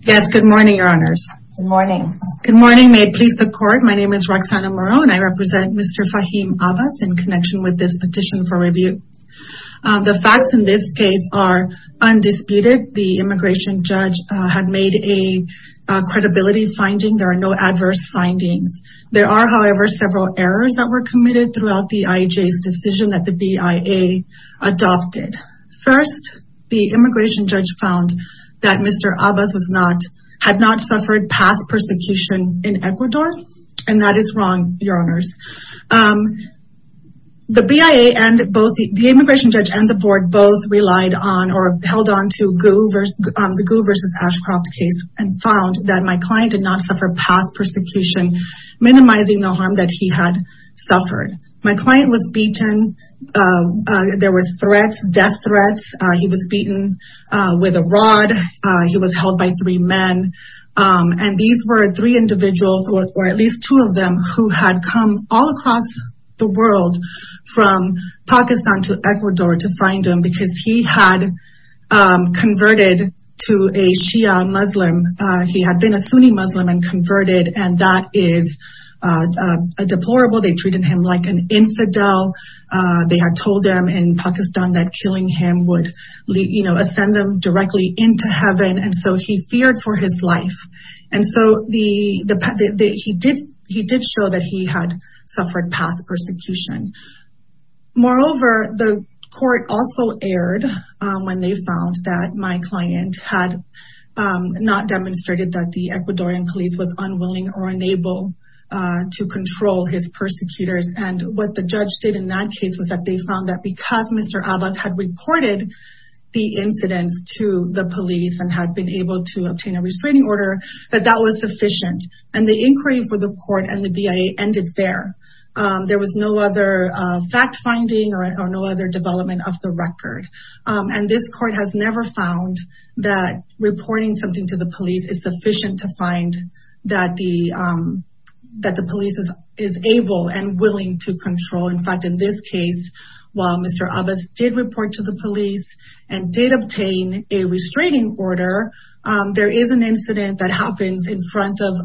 Yes, good morning, your honors. Good morning. Good morning. May it please the court. My name is Roxana Morone. I represent Mr. Faheem Abbas in connection with this petition for review. The facts in this case are undisputed. The immigration judge had made a credibility finding. There are no adverse findings. There are, however, several errors that were committed throughout the IHA's decision that the BIA adopted. First, the immigration judge found that Mr. Abbas was not, had not suffered past persecution in Ecuador. And that is wrong, your honors. The BIA and both the immigration judge and the board both relied on or held on to GU versus the GU versus Ashcroft case and found that my client did not suffer past persecution, minimizing the harm that he had suffered. My client was beaten. There were threats, death threats. He was beaten with a rod. He was held by three men. And these were three individuals or at least two of them who had come all across the world from Pakistan to Ecuador to find him because he had converted to a Shia Muslim. He had been a Sunni Muslim and converted and that is deplorable. They treated him like an infidel. They had told him in Pakistan that killing him would, you know, ascend them directly into heaven. And so he feared for his life. And so he did show that he had suffered past persecution. Moreover, the court also erred when they found that my client had not demonstrated that the Ecuadorian police was unwilling or unable to control his persecutors. And what the judge did in that case was that they found that because Mr. Abbas had reported the incidents to the police and had been able to obtain a restraining order, that that was sufficient. And the inquiry for the court and the BIA ended there. There was no other fact finding or no other development of the record. And this court has never found that reporting something to the police is sufficient to find that the police is able and willing to control. In fact, in this case, while Mr. Abbas did report to the police and did obtain a restraining order, there is an incident that happens in front of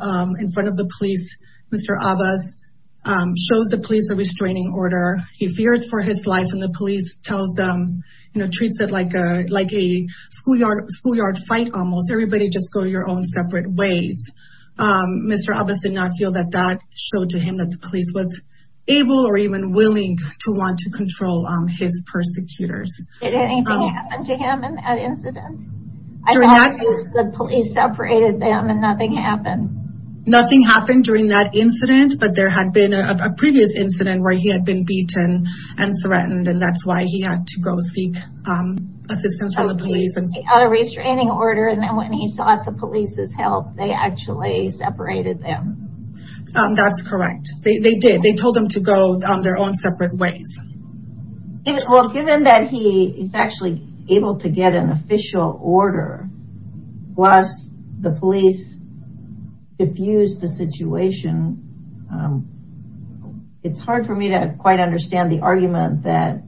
the police. Mr. Abbas shows the police a restraining order. He fears for his life and the police tells them, treats it like a schoolyard fight almost. Everybody just go your own separate ways. Mr. Abbas did not feel that that showed to him that the police was able or even willing to want to control his persecutors. Did anything happen to him in that incident? I thought the police separated them and nothing happened. Nothing happened during that incident, but there had been a previous incident where he had been seeking assistance from the police. He got a restraining order and then when he sought the police's help, they actually separated them. That's correct. They did. They told them to go their own separate ways. Well, given that he is actually able to get an official order, plus the police diffused the situation, it's hard for me to quite understand the argument that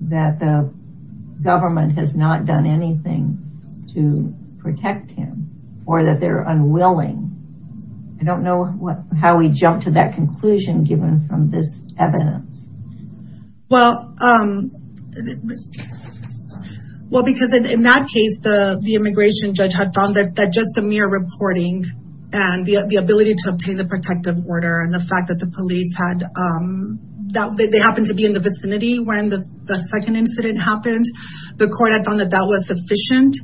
the government has not done anything to protect him or that they're unwilling. I don't know how he jumped to that conclusion given from this evidence. Well, because in that case, the immigration judge had found that just the mere reporting and the ability to obtain the protective order and the fact that the police had, that they happened to be in the vicinity when the second incident happened, the court had found that that was sufficient.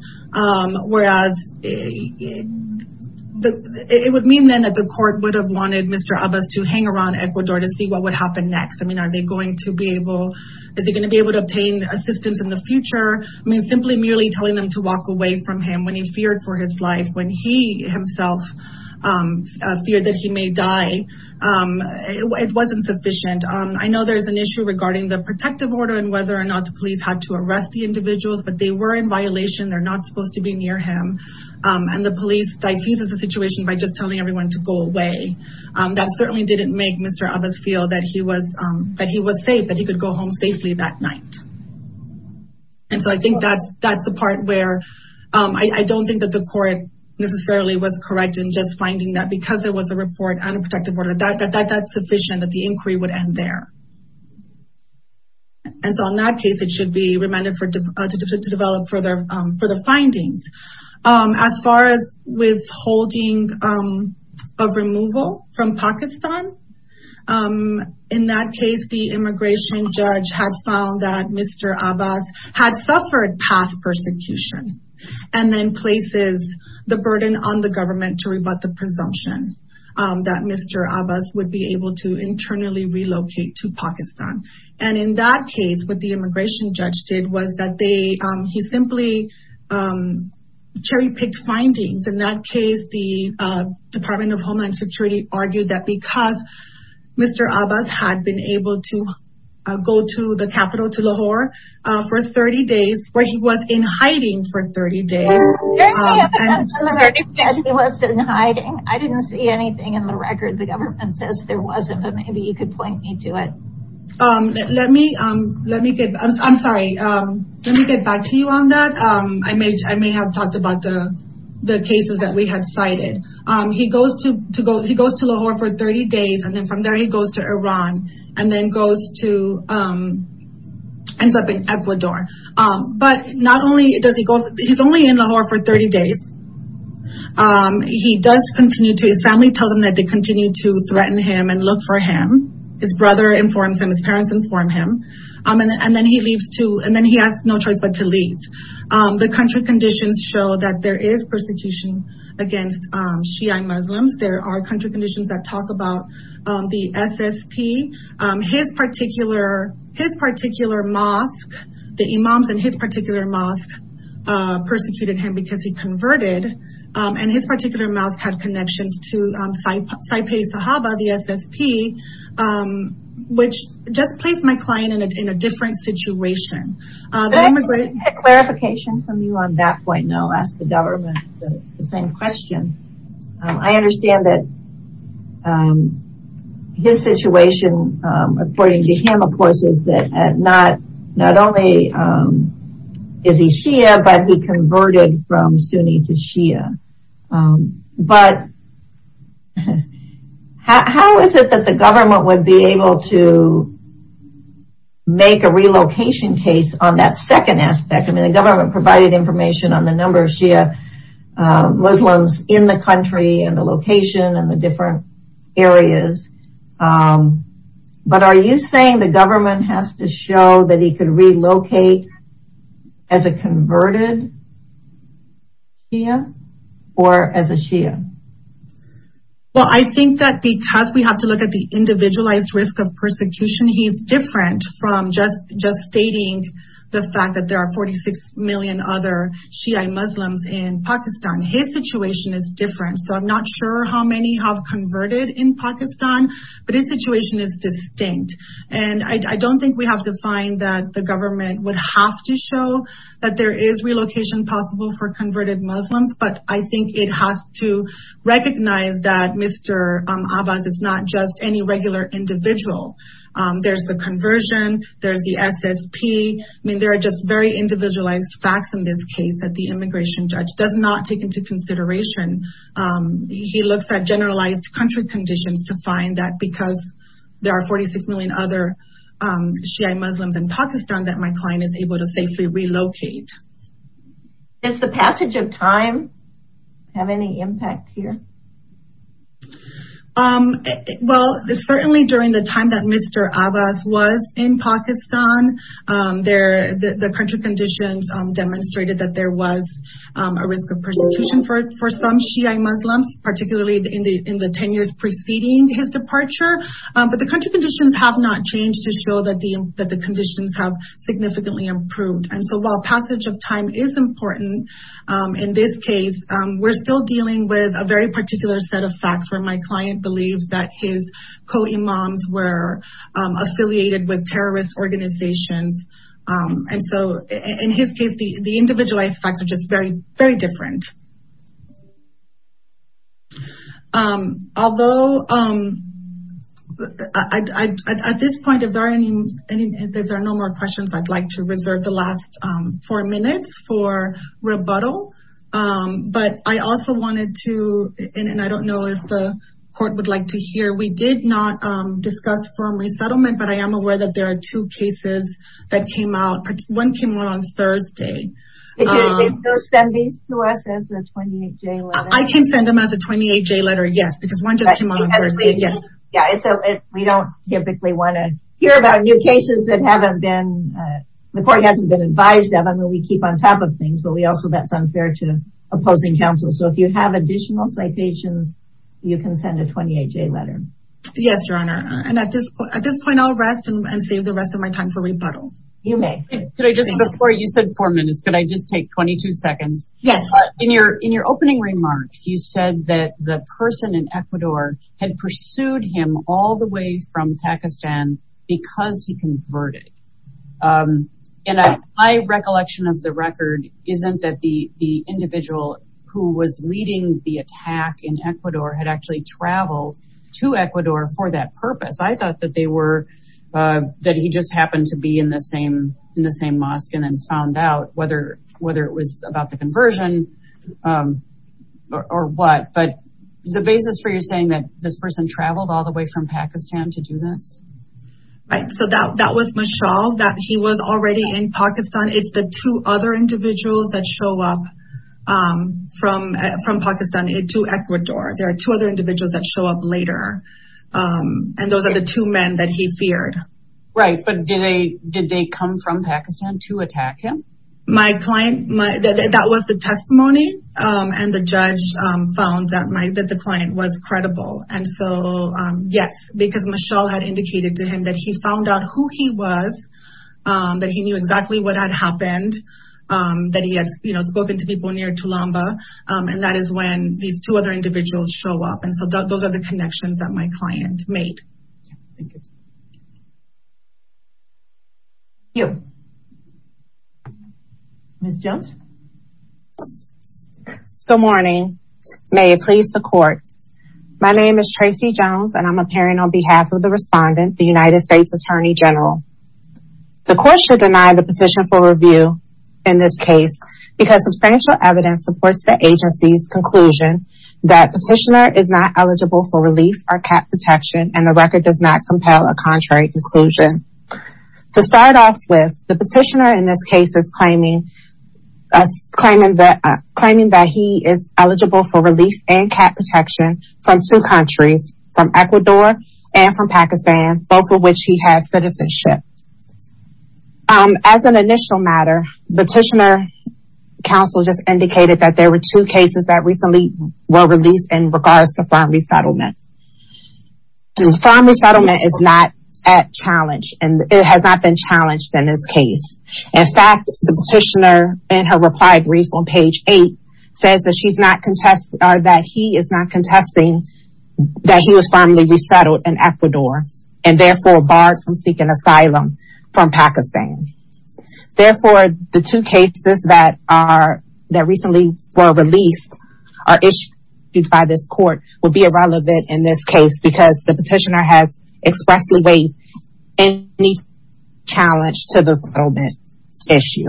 Whereas, it would mean then that the court would have wanted Mr. Abbas to hang around Ecuador to see what would happen next. I mean, are they going to be able, is he going to be able to obtain assistance in the future? I mean, simply merely telling them to walk away from him when he feared for his life, when he himself feared that he may die, it wasn't sufficient. I know there's an issue regarding the protective order and whether or not the police had to arrest the individuals, but they were in violation. They're not supposed to be near him. And the police diffused the situation by just telling everyone to go away. That certainly didn't make Mr. Abbas feel that he was safe, that he could go home safely that night. And so I think that's the part where I don't think that the court necessarily was correct in just finding that because there was a report and a protective order that that's sufficient that the inquiry would end there. And so in that case, it should be remanded to develop further findings. As far as withholding of removal from Pakistan, in that case, the immigration judge had found that Mr. Abbas had suffered past persecution and then places the burden on the government to rebut the presumption that Mr. Abbas would be able to internally relocate to Pakistan. And in that case, what the immigration judge did was that he simply cherry picked findings. In that case, the Department of Homeland Security argued that because Mr. Abbas had been able to go to the 30 days. I didn't see anything in the record. The government says there wasn't, but maybe you could point me to it. Let me get back to you on that. I may have talked about the cases that we had cited. He goes to Lahore for 30 days and then from there he goes to Iran and then goes to Ecuador. But he's only in Lahore for 30 days. His family tells him that they continue to threaten him and look for him. His brother informs him, his parents inform him. And then he has no choice but to leave. The country conditions show that there is persecution against Shiite Muslims. There are country conditions that talk about the SSP. His particular mosque, the imams in his particular mosque persecuted him because he converted. And his particular mosque had connections to the SSP, which just placed my client in a different situation. Can I get a clarification from you on that point? I'll ask the government the same question. I understand that his situation, according to him of course, is that not only is he Shia, but he converted from Sunni to Shia. But how is it that the government would be able to make a relocation case on that second aspect? I mean the government provided information on the number of Shia Muslims in the country and the location and the different areas. But are you saying the government has to show that he could relocate as a converted Shia or as a Shia? Well I think that because we have to look at the individualized risk of persecution, he's different from just stating the fact that there are 46 million other Shiite Muslims in Pakistan. His situation is different. So I'm not sure how many have converted in Pakistan, but his situation is distinct. And I don't think we have to find that the government would have to show that there is relocation possible for converted Muslims. But I think it has to recognize that Mr. Abbas is not just any regular individual. There's the conversion, there's the SSP. I mean there are just very individualized facts in this case that the immigration judge does not take into consideration. He looks at generalized country conditions to find that because there are 46 million other Shiite Muslims in Pakistan that my client is able to safely relocate. Does the passage of time have any impact here? Well certainly during the time that Mr. Abbas was in Pakistan, the country conditions demonstrated that there was a risk of persecution for some Shiite Muslims, particularly in the 10 years preceding his departure. But the country conditions have not changed to show that the passage of time is important. In this case, we're still dealing with a very particular set of facts where my client believes that his co-imams were affiliated with terrorist organizations. And so in his case, the individualized facts are just very, very different. Although at this point, if there are no more questions, I'd like to reserve the last four minutes for rebuttal. But I also wanted to, and I don't know if the court would like to hear, we did not discuss firm resettlement, but I am aware that there are two cases that came out. One came out on Thursday. Did you send these to us as a 28-J letter? I can send them as a 28-J letter, yes. Because one just came out on Thursday, yes. Yeah, and so we don't typically want to hear about new cases that haven't been, the court hasn't been advised of. I mean, we keep on top of things, but we also, that's unfair to opposing counsel. So if you have additional citations, you can send a 28-J letter. Yes, Your Honor. And at this point, I'll rest and save the rest of my time for rebuttal. You may. Could I just, before you said four minutes, could I just take 22 seconds? Yes. In your opening remarks, you said that the person in Ecuador had pursued him all the way from Pakistan because he converted. And my recollection of the record isn't that the individual who was leading the attack in Ecuador had actually traveled to Ecuador for that purpose. I thought they were, that he just happened to be in the same mosque and then found out whether it was about the conversion or what. But the basis for you saying that this person traveled all the way from Pakistan to do this? Right. So that was Mishal, that he was already in Pakistan. It's the two other individuals that show up from Pakistan to Ecuador. There are two other that he feared. Right. But did they come from Pakistan to attack him? My client, that was the testimony. And the judge found that the client was credible. And so, yes, because Mishal had indicated to him that he found out who he was, that he knew exactly what had happened, that he had spoken to people near Tulamba. And that is when these two other individuals show up. And so those are the connections that my client made. Thank you. Ms. Jones? Good morning. May it please the court. My name is Tracy Jones and I'm appearing on behalf of the respondent, the United States Attorney General. The court should deny the petition for review in this case because substantial evidence supports the agency's conclusion that petitioner is not compelled or contrary to conclusion. To start off with, the petitioner in this case is claiming that he is eligible for relief and CAP protection from two countries, from Ecuador and from Pakistan, both of which he has citizenship. As an initial matter, petitioner counsel just indicated that there were two cases that recently were released in regards to farm resettlement. Farm resettlement is not at challenge and it has not been challenged in this case. In fact, the petitioner in her reply brief on page eight says that she's not contesting or that he is not contesting that he was finally resettled in Ecuador and therefore barred from seeking asylum from Pakistan. Therefore, the two cases that recently were released or issued by this court would be irrelevant in this case because the petitioner has expressly weighed any challenge to the relevant issue.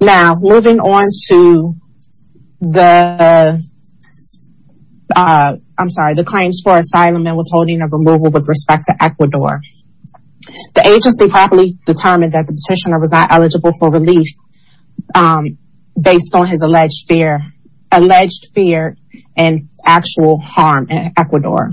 Now, moving on to the, I'm sorry, the claims for asylum and withholding of removal with respect to Ecuador. The agency properly determined that the petitioner was not in actual harm in Ecuador.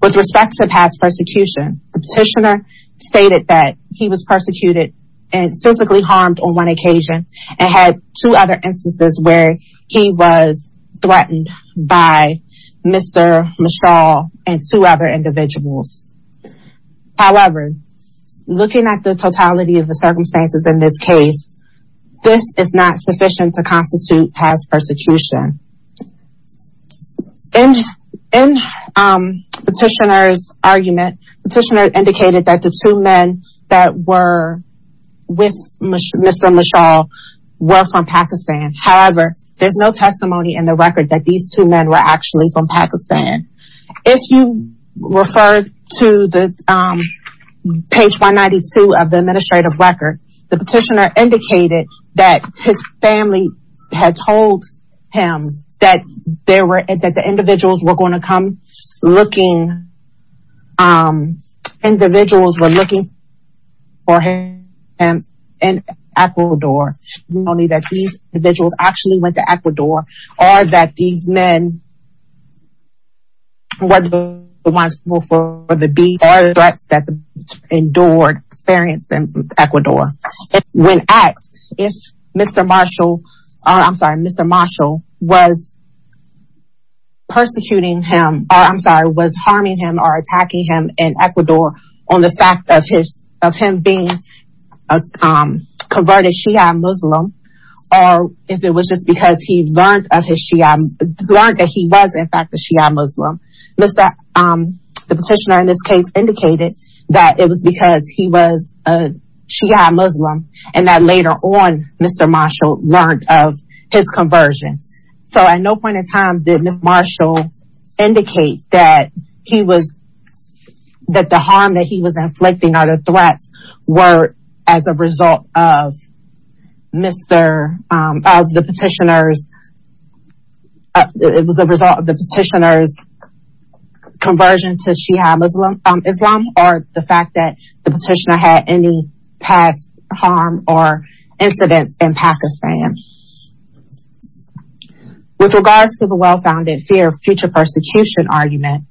With respect to past persecution, the petitioner stated that he was persecuted and physically harmed on one occasion and had two other instances where he was threatened by Mr. Mischall and two other individuals. However, looking at the totality of the circumstances in this case, this is not sufficient to constitute past persecution. In petitioner's argument, petitioner indicated that the two men that were with Mr. Mischall were from Pakistan. However, there's no testimony in the record that these two men were actually from Pakistan. If you refer to the page 192 of the administrative record, the petitioner indicated that his family had told him that there were, that the individuals were going to come looking, individuals were looking for him in Ecuador. Not only that these individuals actually went to Ecuador or that these men were the ones who were for the beat or the threats that the if Mr. Mischall, I'm sorry, Mr. Mischall was persecuting him, or I'm sorry, was harming him or attacking him in Ecuador on the fact of his, of him being converted Shiite Muslim, or if it was just because he learned of his Shiite, learned that he was in fact a Shiite Muslim. The petitioner in this case indicated that it was because he was a Shiite Muslim and that later on Mr. Mischall learned of his conversion. So at no point in time did Mr. Mischall indicate that he was, that the harm that he was inflicting or the threats were as a result of Mr., of the petitioner's, it was a result of the petitioner's conversion to Shiite Muslim, Islam, or the fact that the petitioner had any past harm or incidents in Pakistan. With regards to the well-founded fear of future persecution argument,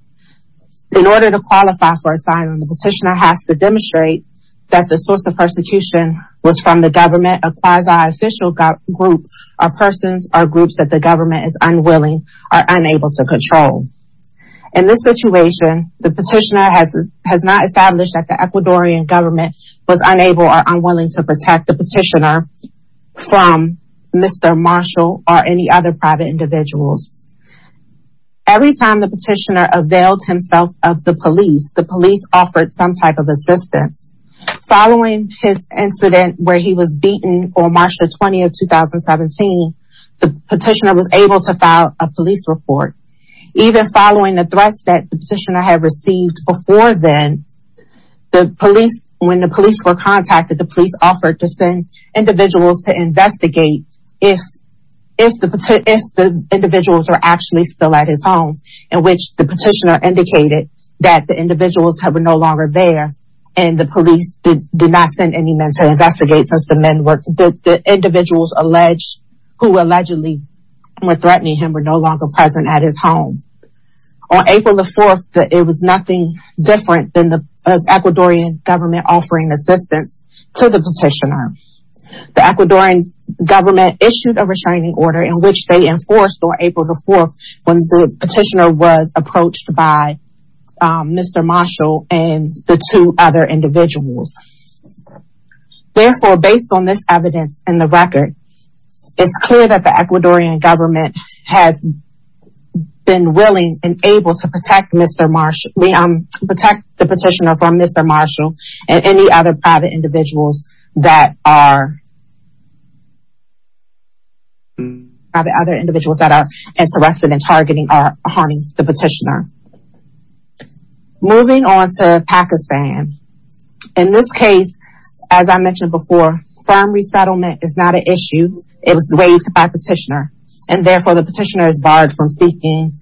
in order to qualify for asylum, the petitioner has to demonstrate that the source of persecution was from the government, a quasi-official group of persons or groups that the government is unwilling or unable to control. In this situation, the petitioner has not established that the Ecuadorian government was unable or unwilling to protect the petitioner from Mr. Mischall or any other private individuals. Every time the petitioner availed himself of the police, the police offered some type of assistance. Following his incident where he was beaten on March the 20th of 2017, the petitioner was able to file a police report. Even following the threats that the petitioner had received before then, the police, when the police were contacted, the police offered to send individuals to investigate if the individuals were actually still at his home, in which the petitioner indicated that the individuals were no longer there and the police did not send any men to investigate since the men were the individuals alleged who allegedly were threatening him were no longer present at his home. On April the 4th, it was nothing different than the Ecuadorian government offering assistance to the petitioner. The Ecuadorian government issued a restraining order in which they enforced on April the 4th when the petitioner was approached by Mr. Mischall and the two other individuals. Therefore, based on this evidence in the record, it's clear that the Ecuadorian government has been willing and able to protect the petitioner from Mr. Mischall and any other private individuals that are interested in targeting or harming the petitioner. Moving on to Pakistan, in this case, as I mentioned before, farm resettlement is not an issue. It was raised by the petitioner and therefore the petitioner is barred from seeking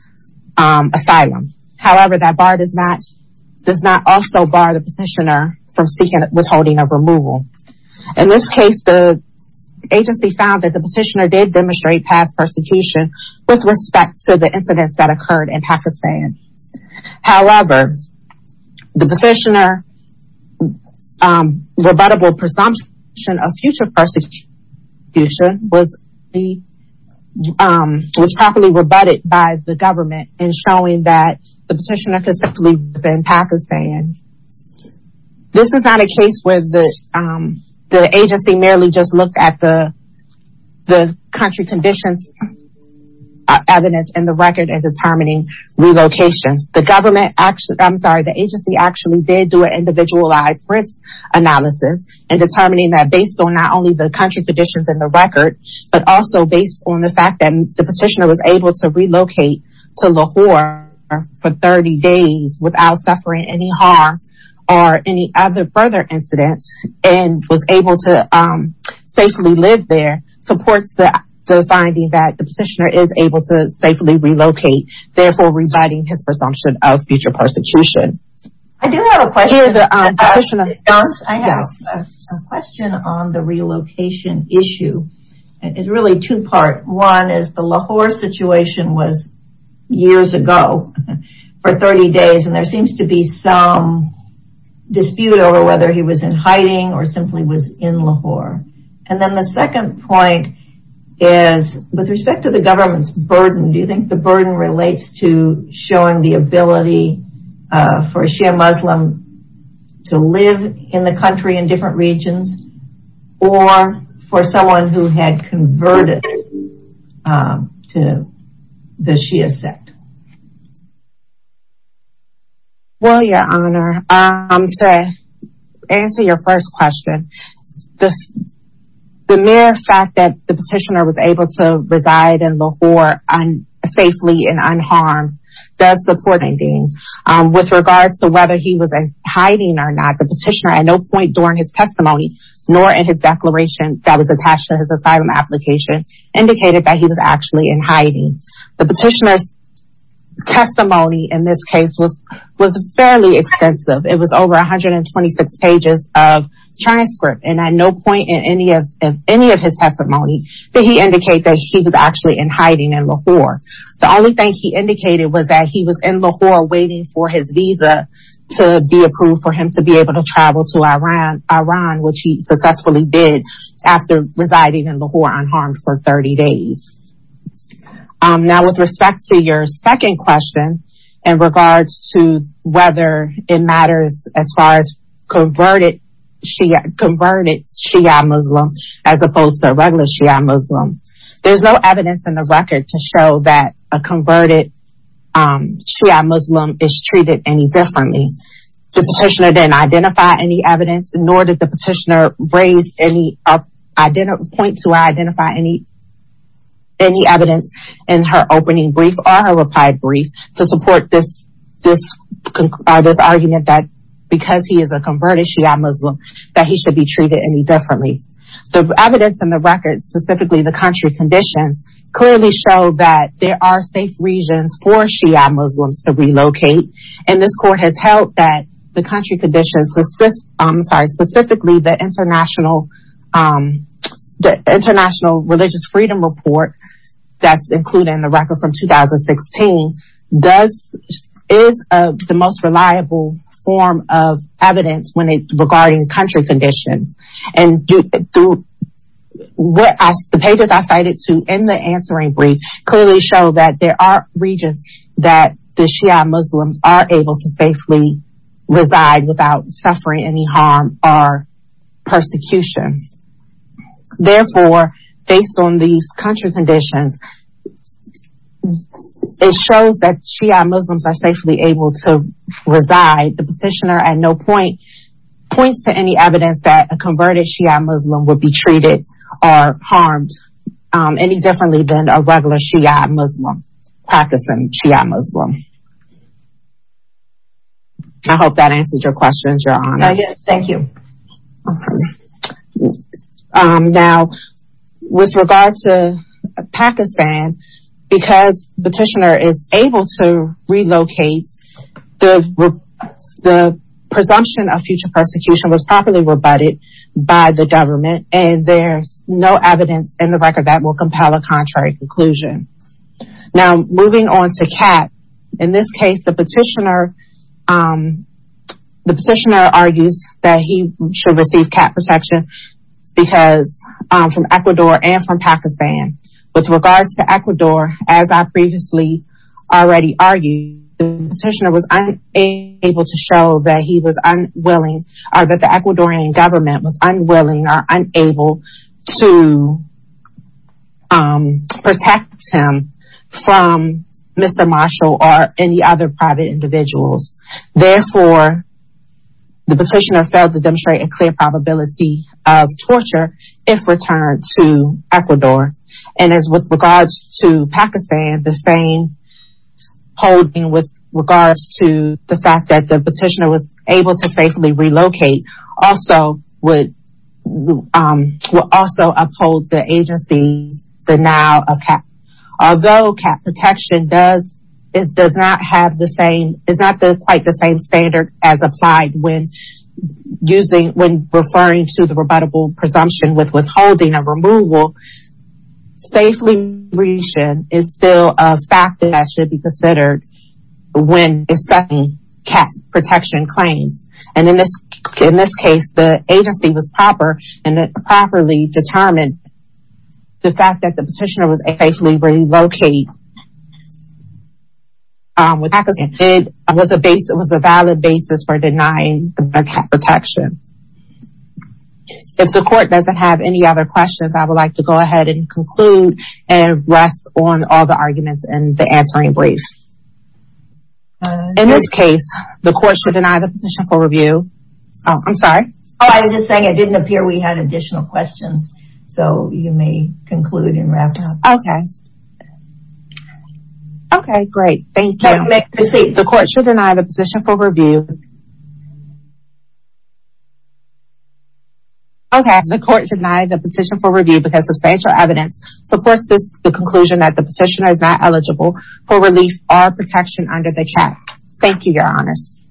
asylum. However, that bar does not also bar the in this case, the agency found that the petitioner did demonstrate past persecution with respect to the incidents that occurred in Pakistan. However, the petitioner rebuttable presumption of future persecution was properly rebutted by the government in showing that the petitioner could simply live in Pakistan. This is not a case where the agency merely just looked at the country conditions evidence in the record and determining relocation. The government actually, I'm sorry, the agency actually did do an individualized risk analysis and determining that based on not only the country conditions in the record, but also based on the fact that the petitioner was able to relocate to Lahore for 30 days without suffering any harm or any other further incidents and was able to safely live there supports the finding that the petitioner is able to safely relocate, therefore rebutting his presumption of future persecution. I do have a question. I have a question on the relocation issue. It's really two part. One is the Lahore situation was years ago for 30 days and there seems to be some dispute over whether he was in hiding or simply was in Lahore. And then the second point is with respect to the government's burden, do you think burden relates to showing the ability for a Shia Muslim to live in the country in different regions or for someone who had converted to the Shia sect? Well, Your Honor, to answer your first question, the mere fact that the petitioner was able to unharmed does support the finding. With regards to whether he was in hiding or not, the petitioner at no point during his testimony nor in his declaration that was attached to his asylum application indicated that he was actually in hiding. The petitioner's testimony in this case was fairly extensive. It was over 126 pages of transcript and at no point in any of his testimony did he indicate that he was actually in hiding in Lahore. The only thing he indicated was that he was in Lahore waiting for his visa to be approved for him to be able to travel to Iran, which he successfully did after residing in Lahore unharmed for 30 days. Now with respect to your second question in regards to whether it matters as far as converted converted Shia Muslims as opposed to regular Shia Muslims, there's no evidence in the record to show that a converted Shia Muslim is treated any differently. The petitioner didn't identify any evidence nor did the petitioner point to or identify any evidence in her opening brief or her argument that because he is a converted Shia Muslim that he should be treated any differently. The evidence in the record, specifically the country conditions, clearly show that there are safe regions for Shia Muslims to relocate and this court has held that the country conditions, specifically the International Religious Freedom Report that's included in the record from 2016, is the most reliable form of evidence regarding country conditions. And through the pages I cited in the answering brief clearly show that there are regions that the Shia Muslims are able to safely reside without suffering any harm or persecution. Therefore, based on these country conditions, it shows that Shia Muslims are safely able to reside. The petitioner at no point points to any evidence that a converted Shia Muslim would be treated or harmed any differently than a regular Shia Muslim, Pakistan Shia Muslim. I hope that answers your questions, Your Honor. Yes, thank you. Now, with regard to Pakistan, because the petitioner is able to relocate the presumption of future persecution was properly rebutted by the government and there's no evidence in the record that will compel a contrary conclusion. Now, moving on to CAAT, in this case the petitioner, the petitioner argues that he should receive CAAT protection because from Ecuador and from Pakistan. With regards to Ecuador, as I previously already argued, the petitioner was unable to show that he was unwilling or that the Ecuadorian government was unwilling or unable to protect him from Mr. Marshall or any other private individuals. Therefore, the petitioner failed to demonstrate a clear probability of torture if returned to Ecuador. And as with regards to Pakistan, the same holding with regards to the fact that the would also uphold the agency's denial of CAAT. Although CAAT protection does, it does not have the same, it's not the quite the same standard as applied when using, when referring to the rebuttable presumption with withholding a removal, safe liberation is still a fact that should be considered when accepting CAAT protection claims. And in this, in this case, the agency was proper and it properly determined the fact that the petitioner was safely relocated. It was a base, it was a valid basis for denying the CAAT protection. If the court doesn't have any other questions, I would like to go ahead and conclude and rest on all the arguments and the answering brief. In this case, the court should deny the position for review. I'm sorry. Oh, I was just saying it didn't appear we had additional questions. So you may conclude and wrap up. Okay. Okay, great. Thank you. The court should deny the position for review. Okay. The court denied the position for review because substantial evidence supports this, the conclusion that the petitioner is not eligible for relief or protection under the CAAT. Thank you, your honors.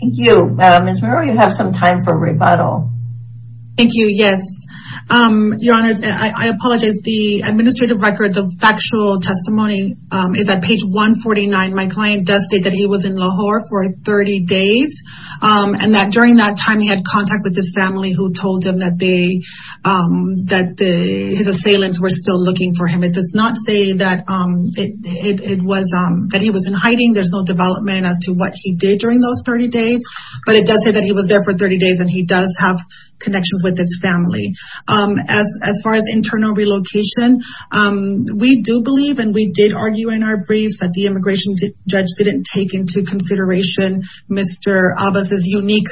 Thank you. Ms. Miro, you have some time for rebuttal. Thank you. Yes. Your honors, I apologize. The administrative record, the factual testimony is at page 149. My client does state that he was in Lahore for 30 days. And that during that time, he had contact with this family who told him that they, that the, his assailants were still looking for him. It does not say that it was, that he was in hiding. There's no development as to what he did during those 30 days, but it does say that he was there for 30 days and he does have connections with this family. As far as internal relocation, we do believe, and we did argue in our briefs that the immigration judge didn't take into consideration Mr. Abbas' unique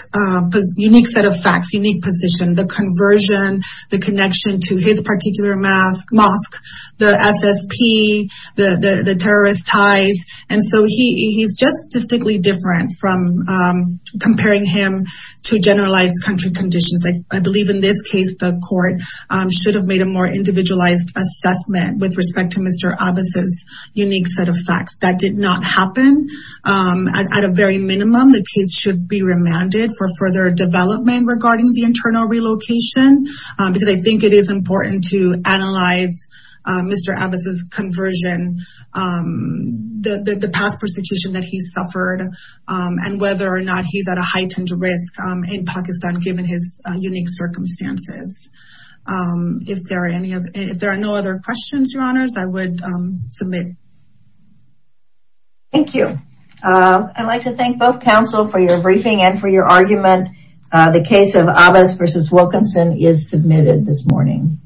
set of facts, unique position, the conversion, the connection to his particular mosque, the SSP, the terrorist ties. And so he's just distinctly different from comparing him to generalized country conditions. I believe in this case, the court should have made a more individualized assessment with respect to Mr. Abbas' unique set of facts. That did not happen. At a very minimum, the case should be the internal relocation, because I think it is important to analyze Mr. Abbas' conversion, the past persecution that he suffered and whether or not he's at a heightened risk in Pakistan, given his unique circumstances. If there are no other questions, your honors, I would submit. Thank you. I'd like to thank both counsel for your briefing and for your argument. The case of Abbas v. Wilkinson is submitted this morning.